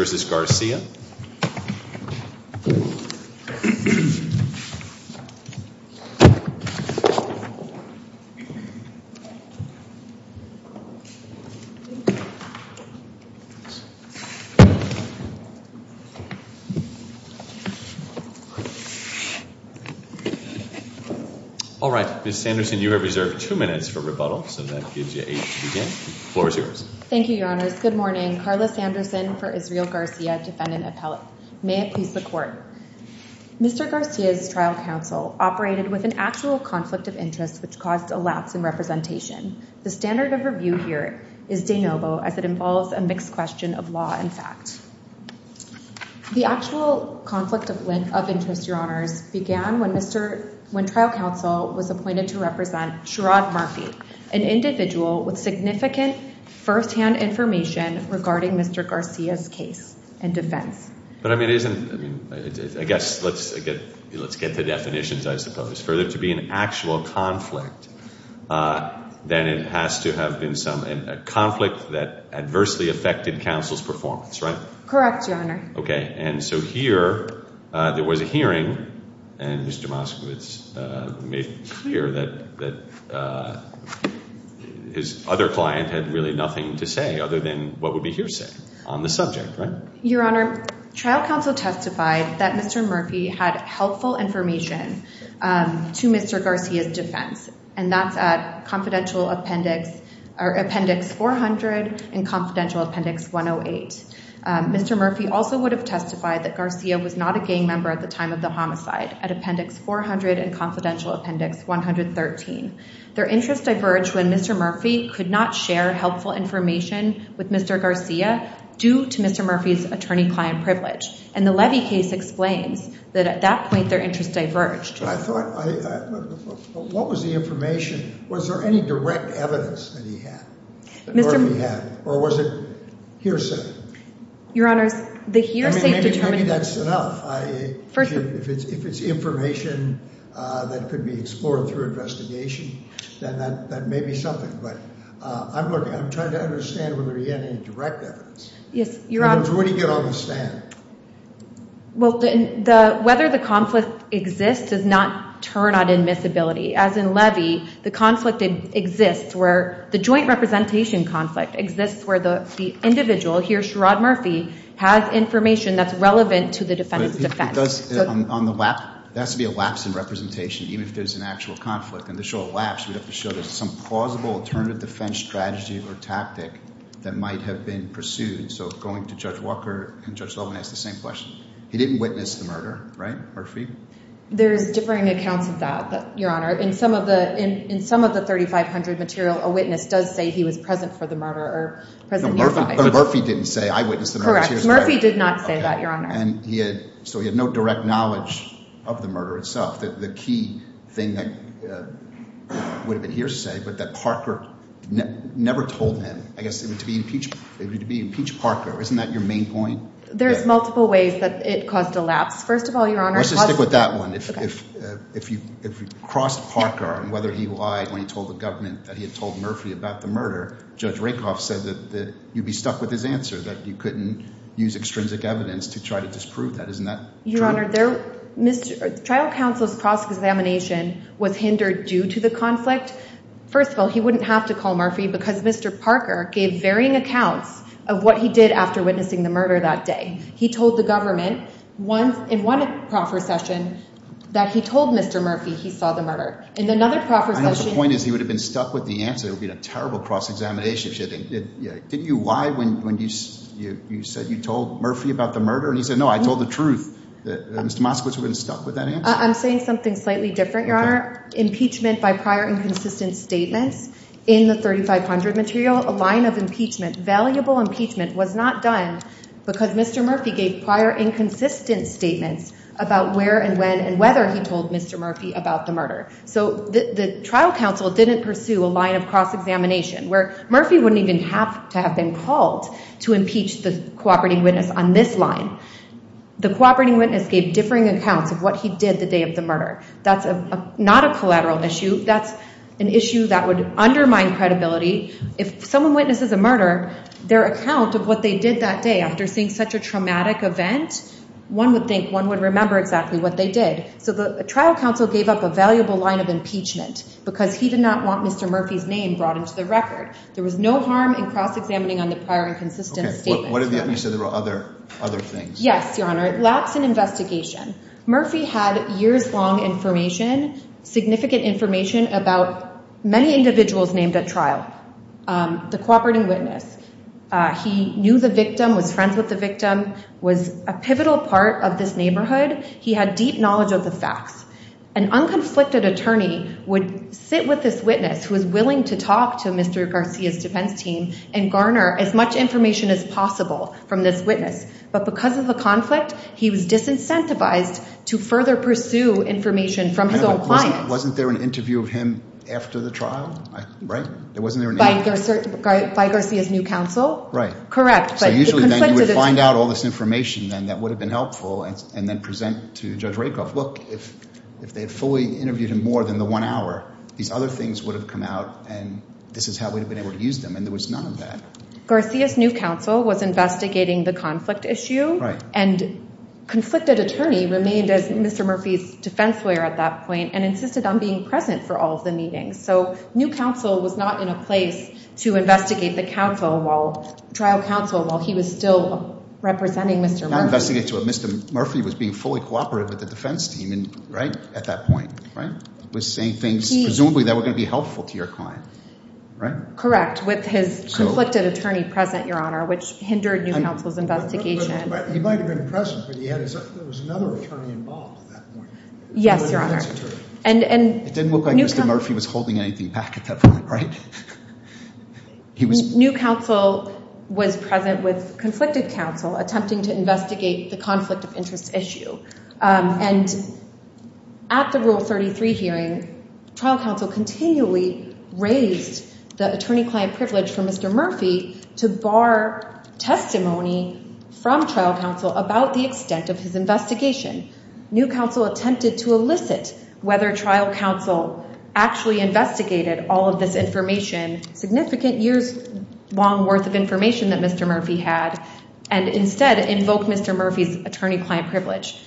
All right, Ms. Sanderson, you are reserved two minutes for rebuttal, so that gives you eight to begin. The floor is yours. Thank you, Your Honors. Yes, good morning. Carla Sanderson for Israel Garcia, defendant appellate. May it please the court. Mr. Garcia's trial counsel operated with an actual conflict of interest, which caused a lapse in representation. The standard of review here is de novo, as it involves a mixed question of law and fact. The actual conflict of interest, Your Honors, began when trial counsel was appointed to represent Sherrod Murphy, an individual with significant firsthand information regarding Mr. Garcia's case and defense. But I mean, it isn't, I mean, I guess, let's get the definitions, I suppose. For there to be an actual conflict, then it has to have been some, a conflict that adversely affected counsel's performance, right? Correct, Your Honor. Okay. And so here, there was a hearing, and Mr. Moskowitz made clear that his other client had really nothing to say other than what would be hearsay on the subject, right? Your Honor, trial counsel testified that Mr. Murphy had helpful information to Mr. Garcia's defense, and that's at Confidential Appendix 400 and Confidential Appendix 108. Mr. Murphy also would have testified that Garcia was not a gang member at the time of the homicide, at Appendix 400 and Confidential Appendix 113. Their interests diverged when Mr. Murphy could not share helpful information with Mr. Garcia due to Mr. Murphy's attorney-client privilege, and the Levy case explains that at that point, their interests diverged. But I thought, what was the information? Was there any direct evidence that he had, that Murphy had? Or was it hearsay? Your Honor, the hearsay determined... I mean, maybe that's enough. First of all... If it's information that could be explored through investigation, then that may be something. But I'm looking, I'm trying to understand whether he had any direct evidence. Yes, Your Honor... And then, where do you get all this data? Well, whether the conflict exists does not turn on admissibility. As in Levy, the conflict exists where, the joint representation conflict exists where the individual, here Sherrod Murphy, has information that's relevant to the defendant's defense. But if he does it on the lap, there has to be a lapse in representation, even if there's an actual conflict. And to show a lapse, we'd have to show there's some plausible alternative defense strategy or tactic that might have been pursued. So, going to Judge Walker and Judge Sullivan, I ask the same question. He didn't witness the murder, right, Murphy? There's differing accounts of that, Your Honor. In some of the 3,500 material, a witness does say he was present for the murder or present nearby. But Murphy didn't say, I witnessed the murder. Correct. Murphy did not say that, Your Honor. And he had, so he had no direct knowledge of the murder itself. The key thing that would have been here to say, but that Parker never told him, I guess it would be to impeach Parker. Isn't that your main point? There's multiple ways that it caused a lapse. Let's just stick with that one. If you crossed Parker on whether he lied when he told the government that he had told Murphy about the murder, Judge Rakoff said that you'd be stuck with his answer, that you couldn't use extrinsic evidence to try to disprove that. Isn't that true? Your Honor, trial counsel's cross-examination was hindered due to the conflict. First of all, he wouldn't have to call Murphy because Mr. Parker gave varying accounts of what he did after witnessing the murder that day. He told the government in one procession that he told Mr. Murphy he saw the murder. I know the point is he would have been stuck with the answer. It would have been a terrible cross-examination. Did you lie when you said you told Murphy about the murder? And he said, no, I told the truth. Mr. Moskowitz would have been stuck with that answer. I'm saying something slightly different, Your Honor. Impeachment by prior inconsistent statements in the 3500 material, a line of impeachment, valuable impeachment was not done because Mr. Murphy gave prior inconsistent statements about where and when and whether he told Mr. Murphy about the murder. So the trial counsel didn't pursue a line of cross-examination where Murphy wouldn't even have to have been called to impeach the cooperating witness on this line. The cooperating witness gave differing accounts of what he did the day of the murder. That's not a collateral issue. That's an issue that would undermine credibility. If someone witnesses a murder, their account of what they did that day after seeing such a traumatic event, one would think, one would remember exactly what they did. So the trial counsel gave up a valuable line of impeachment because he did not want Mr. Murphy's name brought into the record. There was no harm in cross-examining on the prior inconsistent statements. You said there were other things. Yes, Your Honor. Lapse in investigation. Murphy had years-long information, significant information about many individuals named at trial. The cooperating witness, he knew the victim, was friends with the victim, was a pivotal part of this neighborhood. He had deep knowledge of the facts. An unconflicted attorney would sit with this witness who was willing to talk to Mr. Garcia's defense team and garner as much information as possible from this witness. But because of the conflict, he was disincentivized to further pursue information from his own client. Wasn't there an interview of him after the trial? There wasn't an interview? By Garcia's new counsel? Right. Correct. So usually then you would find out all this information then that would have been helpful and then present to Judge Rakoff, look, if they had fully interviewed him more than the one hour, these other things would have come out and this is how we would have been able to use them. And there was none of that. Garcia's new counsel was investigating the conflict issue. Right. And conflicted attorney remained as Mr. Murphy's defense lawyer at that point and insisted on being present for all of the meetings. So new counsel was not in a place to investigate the trial counsel while he was still representing Mr. Murphy. Mr. Murphy was being fully cooperative with the defense team at that point, right? Was saying things presumably that were going to be helpful to your client. Correct. With his conflicted attorney present, Your Honor, which hindered new counsel's investigation. He might have been present, but there was another attorney involved at that point. Yes, Your Honor. It didn't look like Mr. Murphy was holding anything back at that point, right? New counsel was present with conflicted counsel attempting to investigate the conflict of interest issue. And at the Rule 33 hearing, trial counsel continually raised the attorney-client privilege for Mr. Murphy to bar testimony from trial counsel about the extent of his investigation. New counsel attempted to elicit whether trial counsel actually investigated all of this information, significant years-long worth of information that Mr. Murphy had, and instead invoked Mr. Murphy's attorney-client privilege.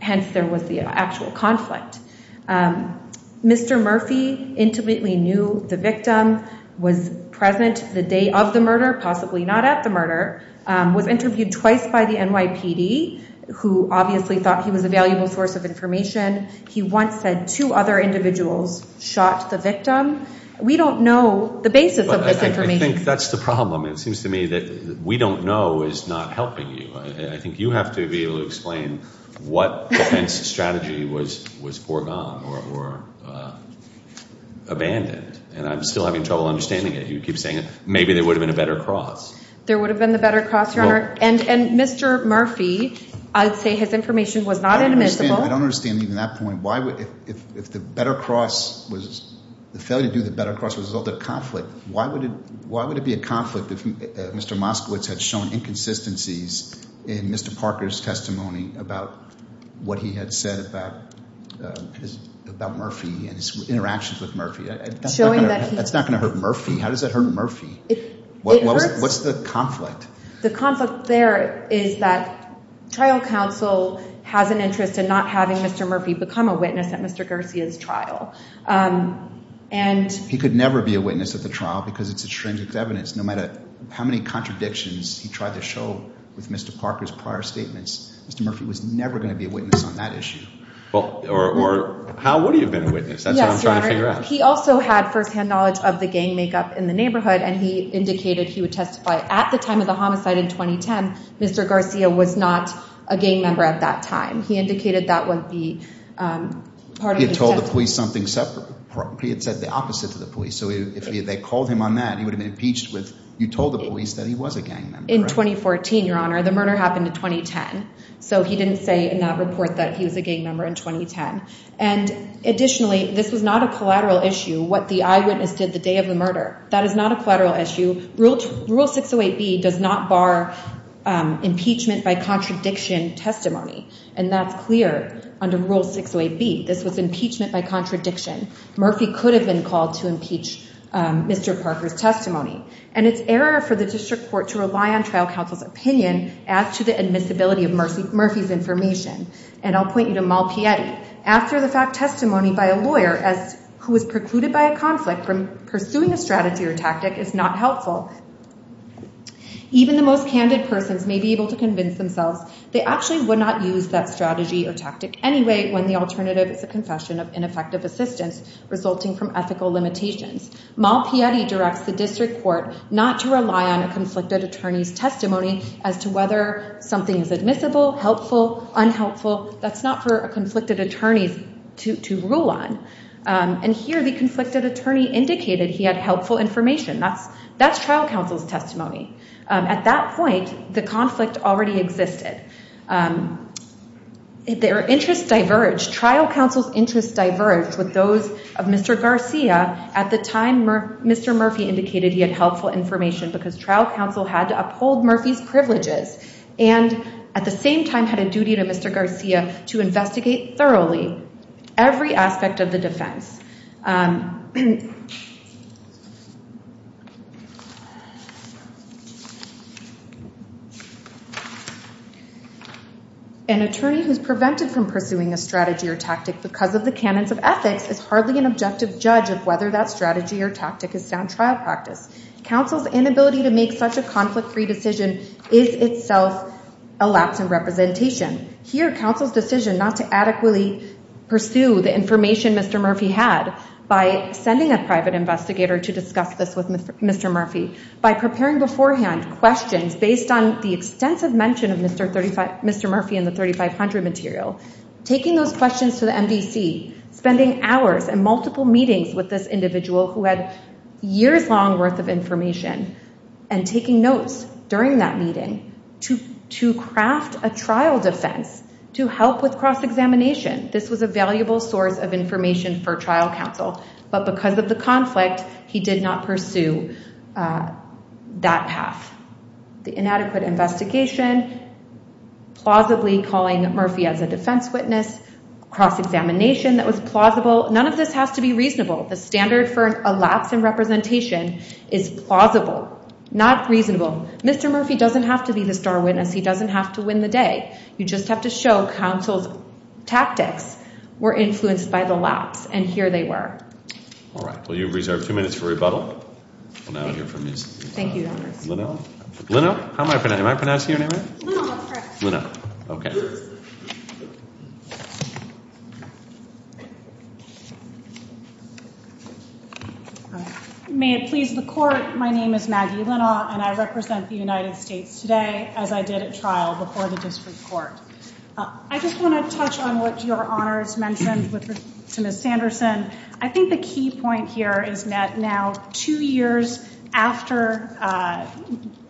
Hence, there was the actual conflict. Mr. Murphy intimately knew the victim, was present the day of the murder, possibly not at the murder, was interviewed twice by the NYPD, who obviously thought he was a valuable source of information. He once said two other individuals shot the victim. We don't know the basis of this information. I think that's the problem. It seems to me that we don't know is not helping you. I think you have to be able to explain what defense strategy was foregone or abandoned. And I'm still having trouble understanding it. You keep saying maybe there would have been a better cross. There would have been a better cross, Your Honor. And Mr. Murphy, I'd say his information was not inadmissible. I don't understand even that point. If the failure to do the better cross was the result of conflict, why would it be a conflict if Mr. Moskowitz had shown inconsistencies in Mr. Parker's testimony about what he had said about Murphy and his interactions with Murphy? That's not going to hurt Murphy. How does that hurt Murphy? What's the conflict? The conflict there is that trial counsel has an interest in not having Mr. Murphy become a witness at Mr. Garcia's trial. He could never be a witness at the trial because it's extrinsic evidence. No matter how many contradictions he tried to show with Mr. Parker's prior statements, Mr. Murphy was never going to be a witness on that issue. Or how would he have been a witness? That's what I'm trying to figure out. He also had first-hand knowledge of the gang makeup in the neighborhood and he indicated he would testify at the time of the homicide in 2010. Mr. Garcia was not a gang member at that time. He indicated that would be part of his testimony. He had told the police something separate. He had said the opposite to the police. So if they called him on that, he would have been impeached with you told the police that he was a gang member. In 2014, Your Honor. The murder happened in 2010. So he didn't say in that report that he was a gang member in 2010. Additionally, this was not a collateral issue. What the eyewitness did the day of the murder. That is not a collateral issue. Rule 608B does not bar impeachment by contradiction testimony. And that's clear under Rule 608B. This was impeachment by contradiction. Murphy could have been called to impeach Mr. Parker's testimony. And it's error for the district court to rely on trial counsel's opinion as to the admissibility of Murphy's information. And I'll point you to Malpietti. After the fact testimony by a lawyer who was precluded by a conflict from pursuing a strategy or tactic is not helpful. Even the most candid persons may be able to convince themselves they actually would not use that strategy or tactic anyway when the alternative is a confession of ineffective assistance resulting from ethical limitations. Malpietti directs the district court not to rely on a conflicted attorney's testimony as to whether something is admissible, helpful, unhelpful. That's not for a conflicted attorney to rule on. And here the conflicted attorney indicated he had helpful information. That's trial counsel's testimony. At that point, the conflict already existed. Their interests diverged. Trial counsel's interests diverged with those of Mr. Garcia. At the time, Mr. Murphy indicated he had helpful information because trial counsel had to uphold Murphy's privileges and at the same time had a duty to Mr. Garcia to investigate thoroughly every aspect of the defense. An attorney who is prevented from pursuing a strategy or tactic because of the canons of ethics is hardly an objective judge of whether that strategy or tactic is sound trial practice. Counsel's inability to make such a conflict-free decision is itself a lapse in representation. Here, counsel's decision not to adequately pursue the information Mr. Murphy had by sending a private investigator to discuss this with Mr. Murphy, by preparing beforehand questions based on the extensive mention of Mr. Murphy in the 3500 material, taking those questions to the MDC, spending hours and multiple meetings with this individual who had years-long worth of information and taking notes during that meeting to craft a trial defense to help with cross-examination. This was a valuable source of information for trial counsel, but because of the conflict, he did not pursue that path. The inadequate investigation, plausibly calling Murphy as a defense witness, cross-examination that was plausible, none of this has to be reasonable. The standard for a lapse in representation is plausible, not reasonable. Mr. Murphy doesn't have to be the star witness. He doesn't have to win the day. You just have to show counsel's tactics were influenced by the lapse, and here they were. All right. Well, you have reserved two minutes for rebuttal. Thank you. Leno? Am I pronouncing your name right? Leno. Okay. May it please the Court, my name is Maggie Leno, and I represent the United States today as I did at trial before the District Court. I just want to touch on what Your Honors mentioned to Ms. Sanderson. I think the key point here is that now two years after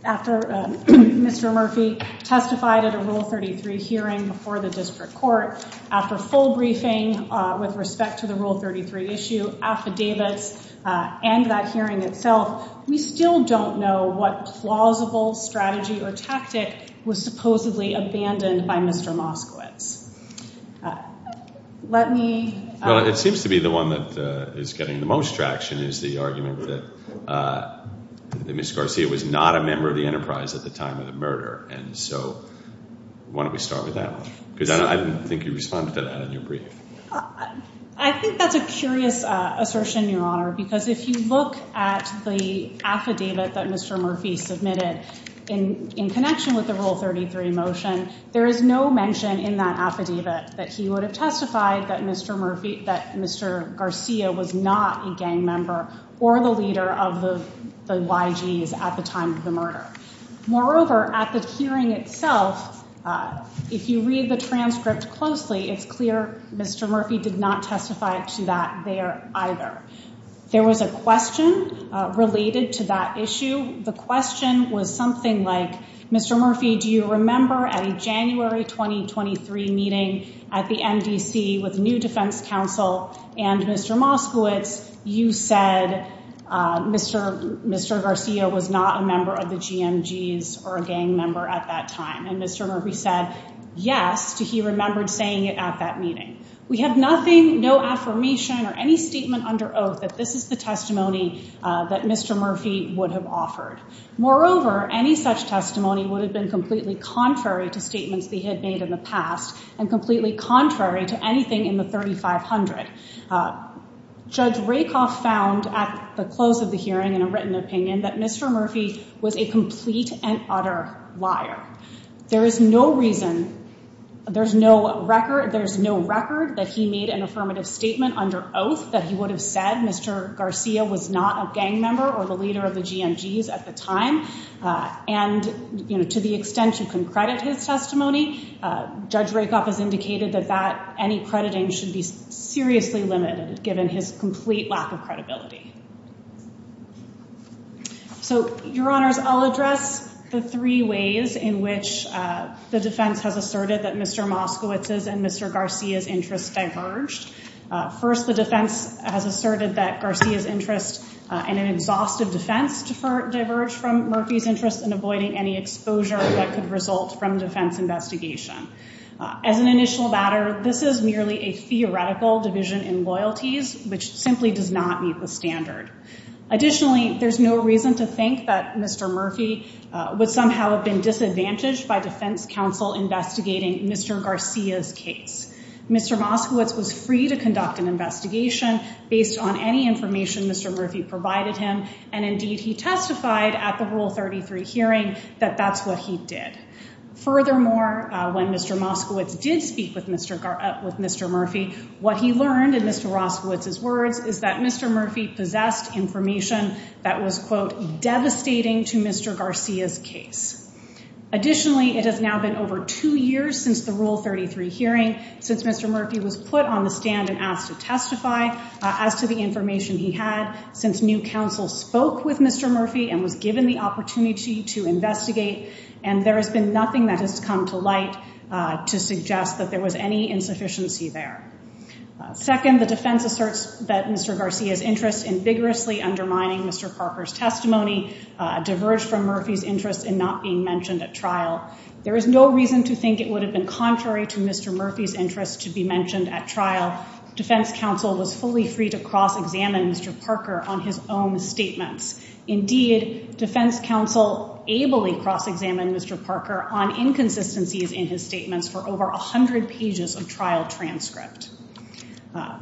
Mr. Murphy testified at a Rule 33 hearing before the District Court, after full briefing with respect to the Rule 33 issue, affidavits, and that hearing itself, we still don't know what plausible strategy or tactic was supposedly abandoned by Mr. Moskowitz. Let me... Well, it seems to be the one that is getting the most traction is the argument that Ms. Garcia was not a member of the Enterprise at the time of the murder. Why don't we start with that one? Because I don't think you responded to that in your brief. I think that's a curious assertion, Your Honor, because if you look at the affidavit that Mr. Murphy submitted in connection with the Rule 33 motion, there is no mention in that affidavit that he would have testified that Mr. Garcia was not a gang member or the leader of the YGs at the time of the murder. Moreover, at the hearing itself, if you read the transcript closely, it's clear Mr. Murphy did not testify to that there either. There was a question related to that issue. The question was something like, Mr. Murphy, do you remember at a January 2023 meeting at the MDC with the new defense counsel and Mr. Moskowitz, you said Mr. Garcia was not a member of the GMGs or a gang member at that time, and Mr. Murphy said yes to he remembered saying it at that meeting. We have nothing, no affirmation, or any statement under oath that this is the testimony that Mr. Murphy would have offered. Moreover, any such testimony would have been completely contrary to statements they had made in the past and completely contrary to anything in the 3500. Judge Rakoff found at the close of the hearing in a written opinion that Mr. Murphy was a complete and utter liar. There is no reason, there's no record that he made an affirmative statement under oath that he would have said Mr. Garcia was not a gang member or the leader of the GMGs at the time, and to the extent you can credit his testimony, Judge Rakoff has indicated that any crediting should be seriously limited given his complete lack of credibility. So, Your Honors, I'll address the three ways in which the defense has asserted that Mr. Moskowitz's and Mr. Garcia's interests diverged. First, the defense has asserted that Garcia's interest in an exhaustive defense diverged from Murphy's interest in avoiding any exposure that could result from defense investigation. As an initial matter, this is merely a theoretical division in loyalties, which simply does not meet the standard. Additionally, there's no reason to think that Mr. Murphy would somehow have been disadvantaged by defense counsel investigating Mr. Garcia's case. Mr. Moskowitz was free to conduct an investigation based on any information Mr. Murphy provided him, and indeed he testified at the Rule 33 hearing that that's what he did. Furthermore, when Mr. Moskowitz did speak with Mr. Murphy, what he learned in Mr. Roskowitz's words is that Mr. Murphy possessed information that was, quote, devastating to Mr. Garcia's case. Additionally, it has now been over two years since the Rule 33 hearing since Mr. Murphy was put on the stand and asked to testify as to the information he had since new counsel spoke with Mr. Murphy and was given the opportunity to investigate, and there has been nothing that has come to light to suggest that there was any insufficiency there. Second, the defense asserts that Mr. Garcia's interest in vigorously undermining Mr. Parker's testimony diverged from Murphy's interest in not being mentioned at trial. There is no reason to think it would have been contrary to Mr. Mr. Parker's intent to not be mentioned at trial. Defense counsel was fully free to cross-examine Mr. Parker on his own statements. Indeed, defense counsel ably cross-examined Mr. Parker on inconsistencies in his statements for over 100 pages of trial transcript.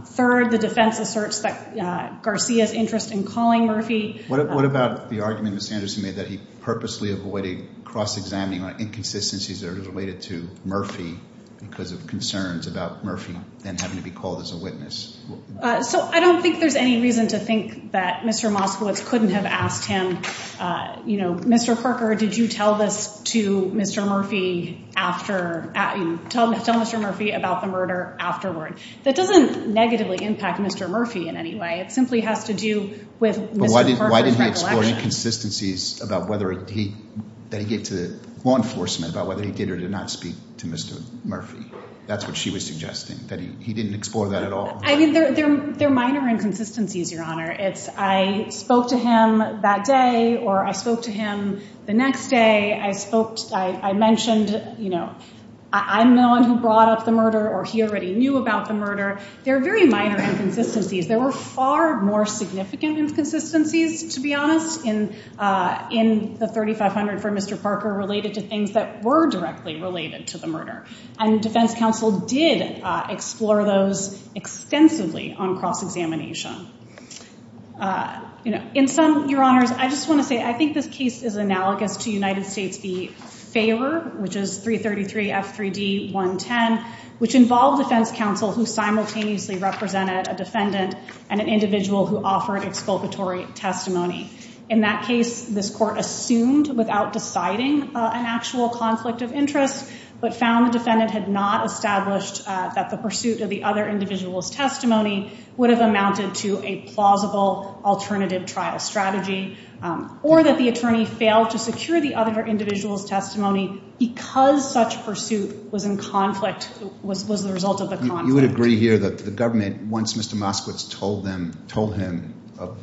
Third, the defense asserts that Garcia's interest in calling Murphy... What about the argument Ms. Anderson made that he purposely avoided cross-examining on inconsistencies that are related to Murphy because of concerns about Murphy then having to be called as a witness? So I don't think there's any reason to think that Mr. Moskowitz couldn't have asked him, you know, Mr. Parker, did you tell this to Mr. Murphy after... tell Mr. Murphy about the murder afterward. That doesn't negatively impact Mr. Murphy in any way. It simply has to do with Mr. Parker's recollection. But why did he explore inconsistencies about whether he... that he gave to law enforcement about whether he did or did not speak to Mr. Murphy? That's what she was suggesting, that he didn't explore that at all. I mean, there are minor inconsistencies, Your Honor. I spoke to him that day or I spoke to him the next day. I spoke... I mentioned, you know, I'm the one who brought up the murder or he already knew about the murder. There are very minor inconsistencies. There were far more significant inconsistencies, to be honest, in the 3500 for Mr. Parker related to things that were directly related to the murder. And Defense Counsel did explore those extensively on cross-examination. In sum, Your Honors, I just want to say I think this case is analogous to United States v. Faber, which is 333 F3D 110, which involved Defense Counsel who simultaneously represented a defendant and an individual who offered expulgatory testimony. In that case, this court assumed without deciding an actual conflict of interest but found the defendant had not established that the pursuit of the other individual's testimony would have amounted to a plausible alternative trial strategy or that the attorney failed to secure the other individual's testimony because such pursuit was in conflict... was the result of the conflict. You would agree here that the government, once Mr. Moskowitz told him of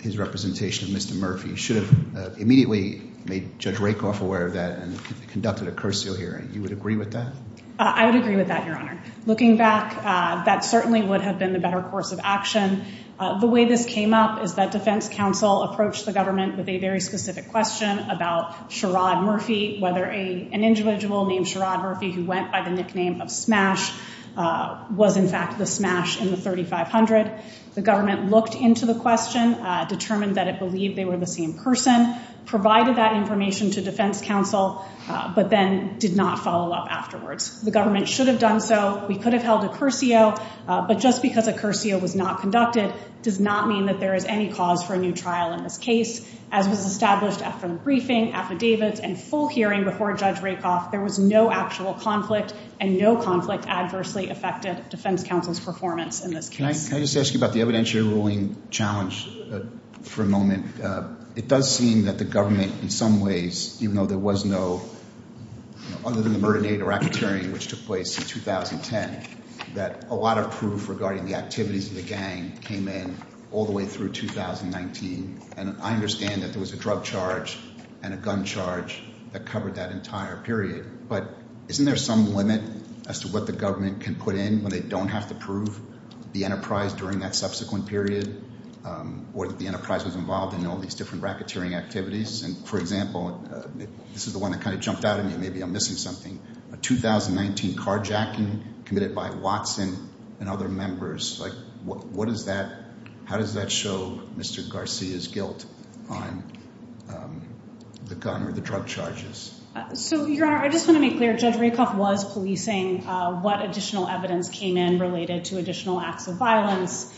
his representation of Mr. Murphy, should have immediately made Judge Rakoff aware of that and conducted a cursorial hearing. You would agree with that? I would agree with that, Your Honor. Looking back, that certainly would have been the better course of action. The way this came up is that Defense Counsel approached the government with a very specific question about Sherrod Murphy, whether an individual named Sherrod Murphy who went by the nickname of Smash was in fact the Smash in the 3500. The government looked into the question, determined that it believed they were the same person, provided that information to Defense Counsel, but then did not follow up afterwards. The government should have done so. We could have held a cursio, but just because a cursio was not conducted does not mean that there is any cause for a new trial in this case. As was established after the briefing, affidavits, and full hearing before Judge Rakoff, there was no actual conflict and no conflict adversely affected Defense Counsel's performance in this case. Can I just ask you about the evidentiary ruling challenge for a moment? It does seem that the government, in some ways, even though there was no, other than the murder-native racketeering which took place in 2010, that a lot of proof regarding the activities of the gang came in all the way through 2019. I understand that there was a drug charge and a gun charge that covered that entire period, but isn't there some limit as to what the government can put in when they don't have to prove the enterprise during that subsequent period or that the enterprise was involved in all these different racketeering activities? For example, this is the one that kind of jumped out at me. Maybe I'm missing something. A 2019 carjacking committed by Watson and other members. How does that show Mr. Garcia's guilt on the gun or the drug charges? Your Honor, I just want to make clear, Judge Rakoff was policing what additional evidence came in related to additional acts of violence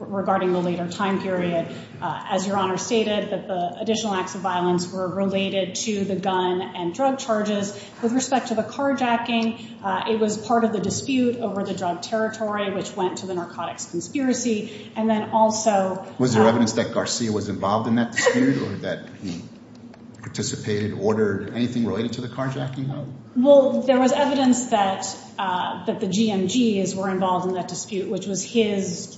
regarding the later time period. As Your Honor stated, the additional acts of violence were related to the gun and drug charges. With respect to the carjacking, it was part of the drug territory which went to the narcotics conspiracy. Was there evidence that Garcia was involved in that dispute or that he participated, ordered anything related to the carjacking? There was evidence that the GMGs were involved in that dispute, which was his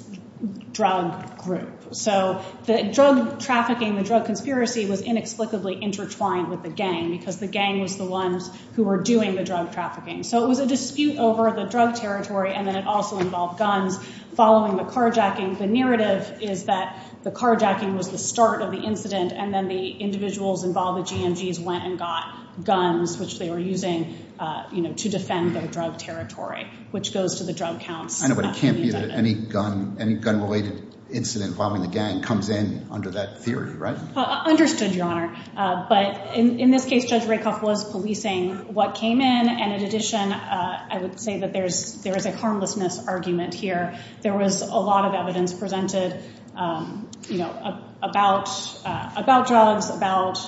drug group. So the drug trafficking, the drug conspiracy was inexplicably intertwined with the gang because the gang was the ones who were doing the drug trafficking. So it was a dispute over the drug territory and then it also involved guns following the carjacking. The narrative is that the carjacking was the start of the incident and then the individuals involved, the GMGs, went and got guns, which they were using to defend their drug territory, which goes to the drug counts. I know, but it can't be that any gun-related incident involving the gang comes in under that theory, right? Understood, Your Honor. But in this case, Judge Rakoff was policing what came in and in addition, I would say that there is a harmlessness argument here. There was a lot of evidence presented about drugs, about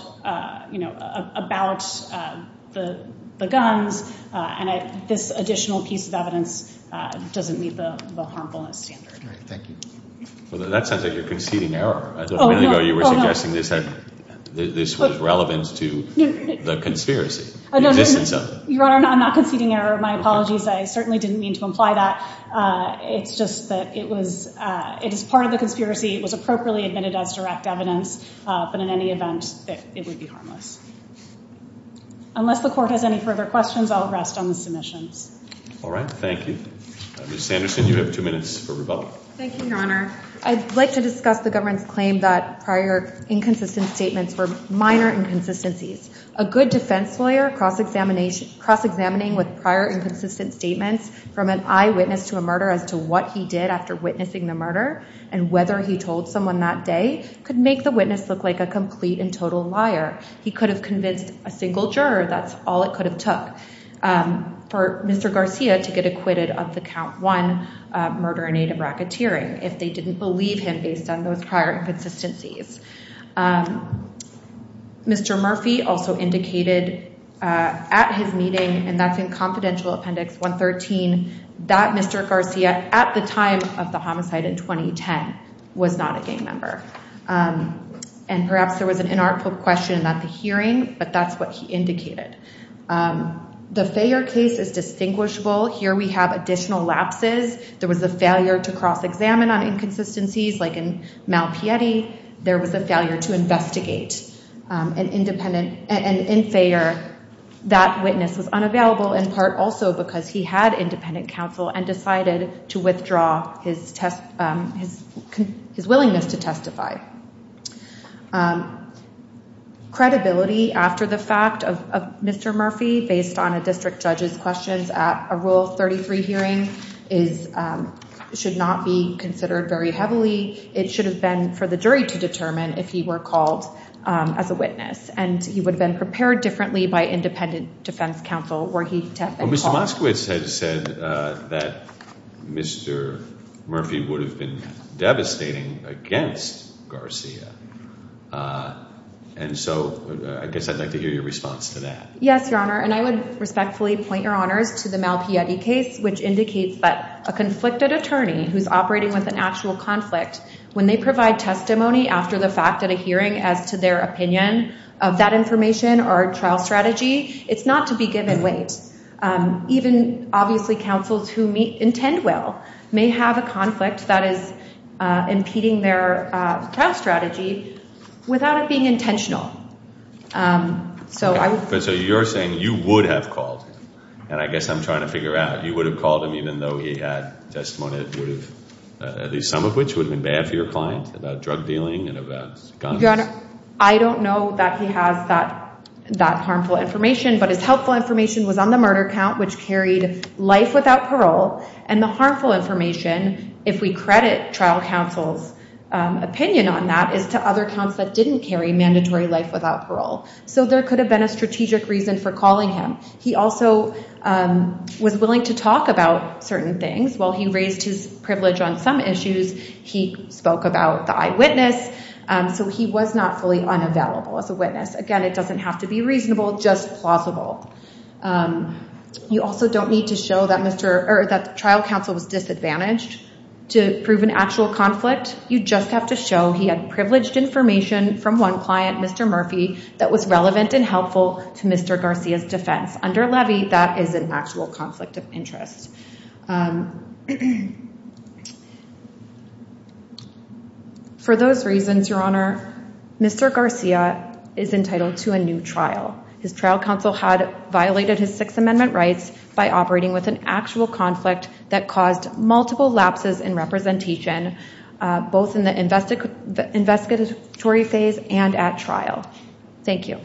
the guns, and this additional piece of evidence doesn't meet the harmfulness standard. Thank you. That sounds like you're conceding error. A minute ago you were suggesting that this was relevant to the conspiracy, the existence of it. Your Honor, I'm not conceding error. My apologies. I certainly didn't mean to imply that. It's just that it was part of the conspiracy. It was appropriately admitted as direct evidence, but in any event, it would be harmless. Unless the Court has any further questions, I'll rest on the submissions. All right, thank you. Ms. Sanderson, you have two minutes for rebuttal. Thank you, Your Honor. I'd like to discuss the government's claim that prior inconsistent statements were minor inconsistencies. A good defense lawyer cross-examining with prior inconsistent statements from an eyewitness to a murder as to what he did after witnessing the murder and whether he told someone that day could make the witness look like a complete and total liar. He could have convinced a single juror. That's all it could have took for Mr. Garcia to get acquitted of the count one murder in aid of racketeering if they didn't believe him based on those prior inconsistencies. Mr. Murphy also indicated at his meeting and that's in Confidential Appendix 113 that Mr. Garcia at the time of the homicide in 2010 was not a gang member. And perhaps there was an inartful question at the hearing, but that's what he indicated. The failure case is distinguishable. Here we have additional There was a failure to cross-examine on inconsistencies. Like in Malpieti, there was a failure to investigate and in Fayette that witness was unavailable in part also because he had independent counsel and decided to withdraw his willingness to testify. Credibility after the fact of Mr. Murphy based on a district judge's questions at a Rule 33 hearing should not be considered very heavily. It should have been for the jury to determine if he were called as a witness. And he would have been prepared differently by independent defense counsel were he to have been called. Mr. Moskowitz had said that Mr. Murphy would have been devastating against Garcia. And so I guess I'd like to hear your response to that. Yes, Your Honor, and I would respectfully point Your Honors to the Malpieti case which indicates that a conflicted attorney who's operating with an actual conflict, when they provide testimony after the fact at a hearing as to their opinion of that information or trial strategy, it's not to be given weight. Even, obviously, counsels who intend well may have a conflict that is impeding their trial strategy without it being intentional. So you're saying you would have called him? And I guess I'm trying to figure out, you would have called him even though he had testimony that would have, at least some of which would have been bad for your client about drug dealing and about guns? Your Honor, I don't know that he has that harmful information, but his helpful information was on the murder count which carried life without parole, and the harmful information, if we credit trial counsel's opinion on that, is to other counts that didn't carry mandatory life without parole. So there could have been a strategic reason for calling him. He also was willing to talk about certain things. While he raised his privilege on some issues, he spoke about the eyewitness, so he was not fully unavailable as a witness. Again, it doesn't have to be reasonable, just plausible. You also don't need to show that trial counsel was disadvantaged to prove an actual conflict. You just have to show he had privileged information from one client, Mr. Murphy, that was relevant and helpful to Mr. Garcia's defense. Under levy, that is an actual conflict of interest. For those reasons, Your Honor, Mr. Garcia is entitled to a new trial. His trial counsel had violated his Sixth Amendment rights by operating with an actual conflict that caused multiple lapses in representation, both in the investigatory phase and at trial. Thank you.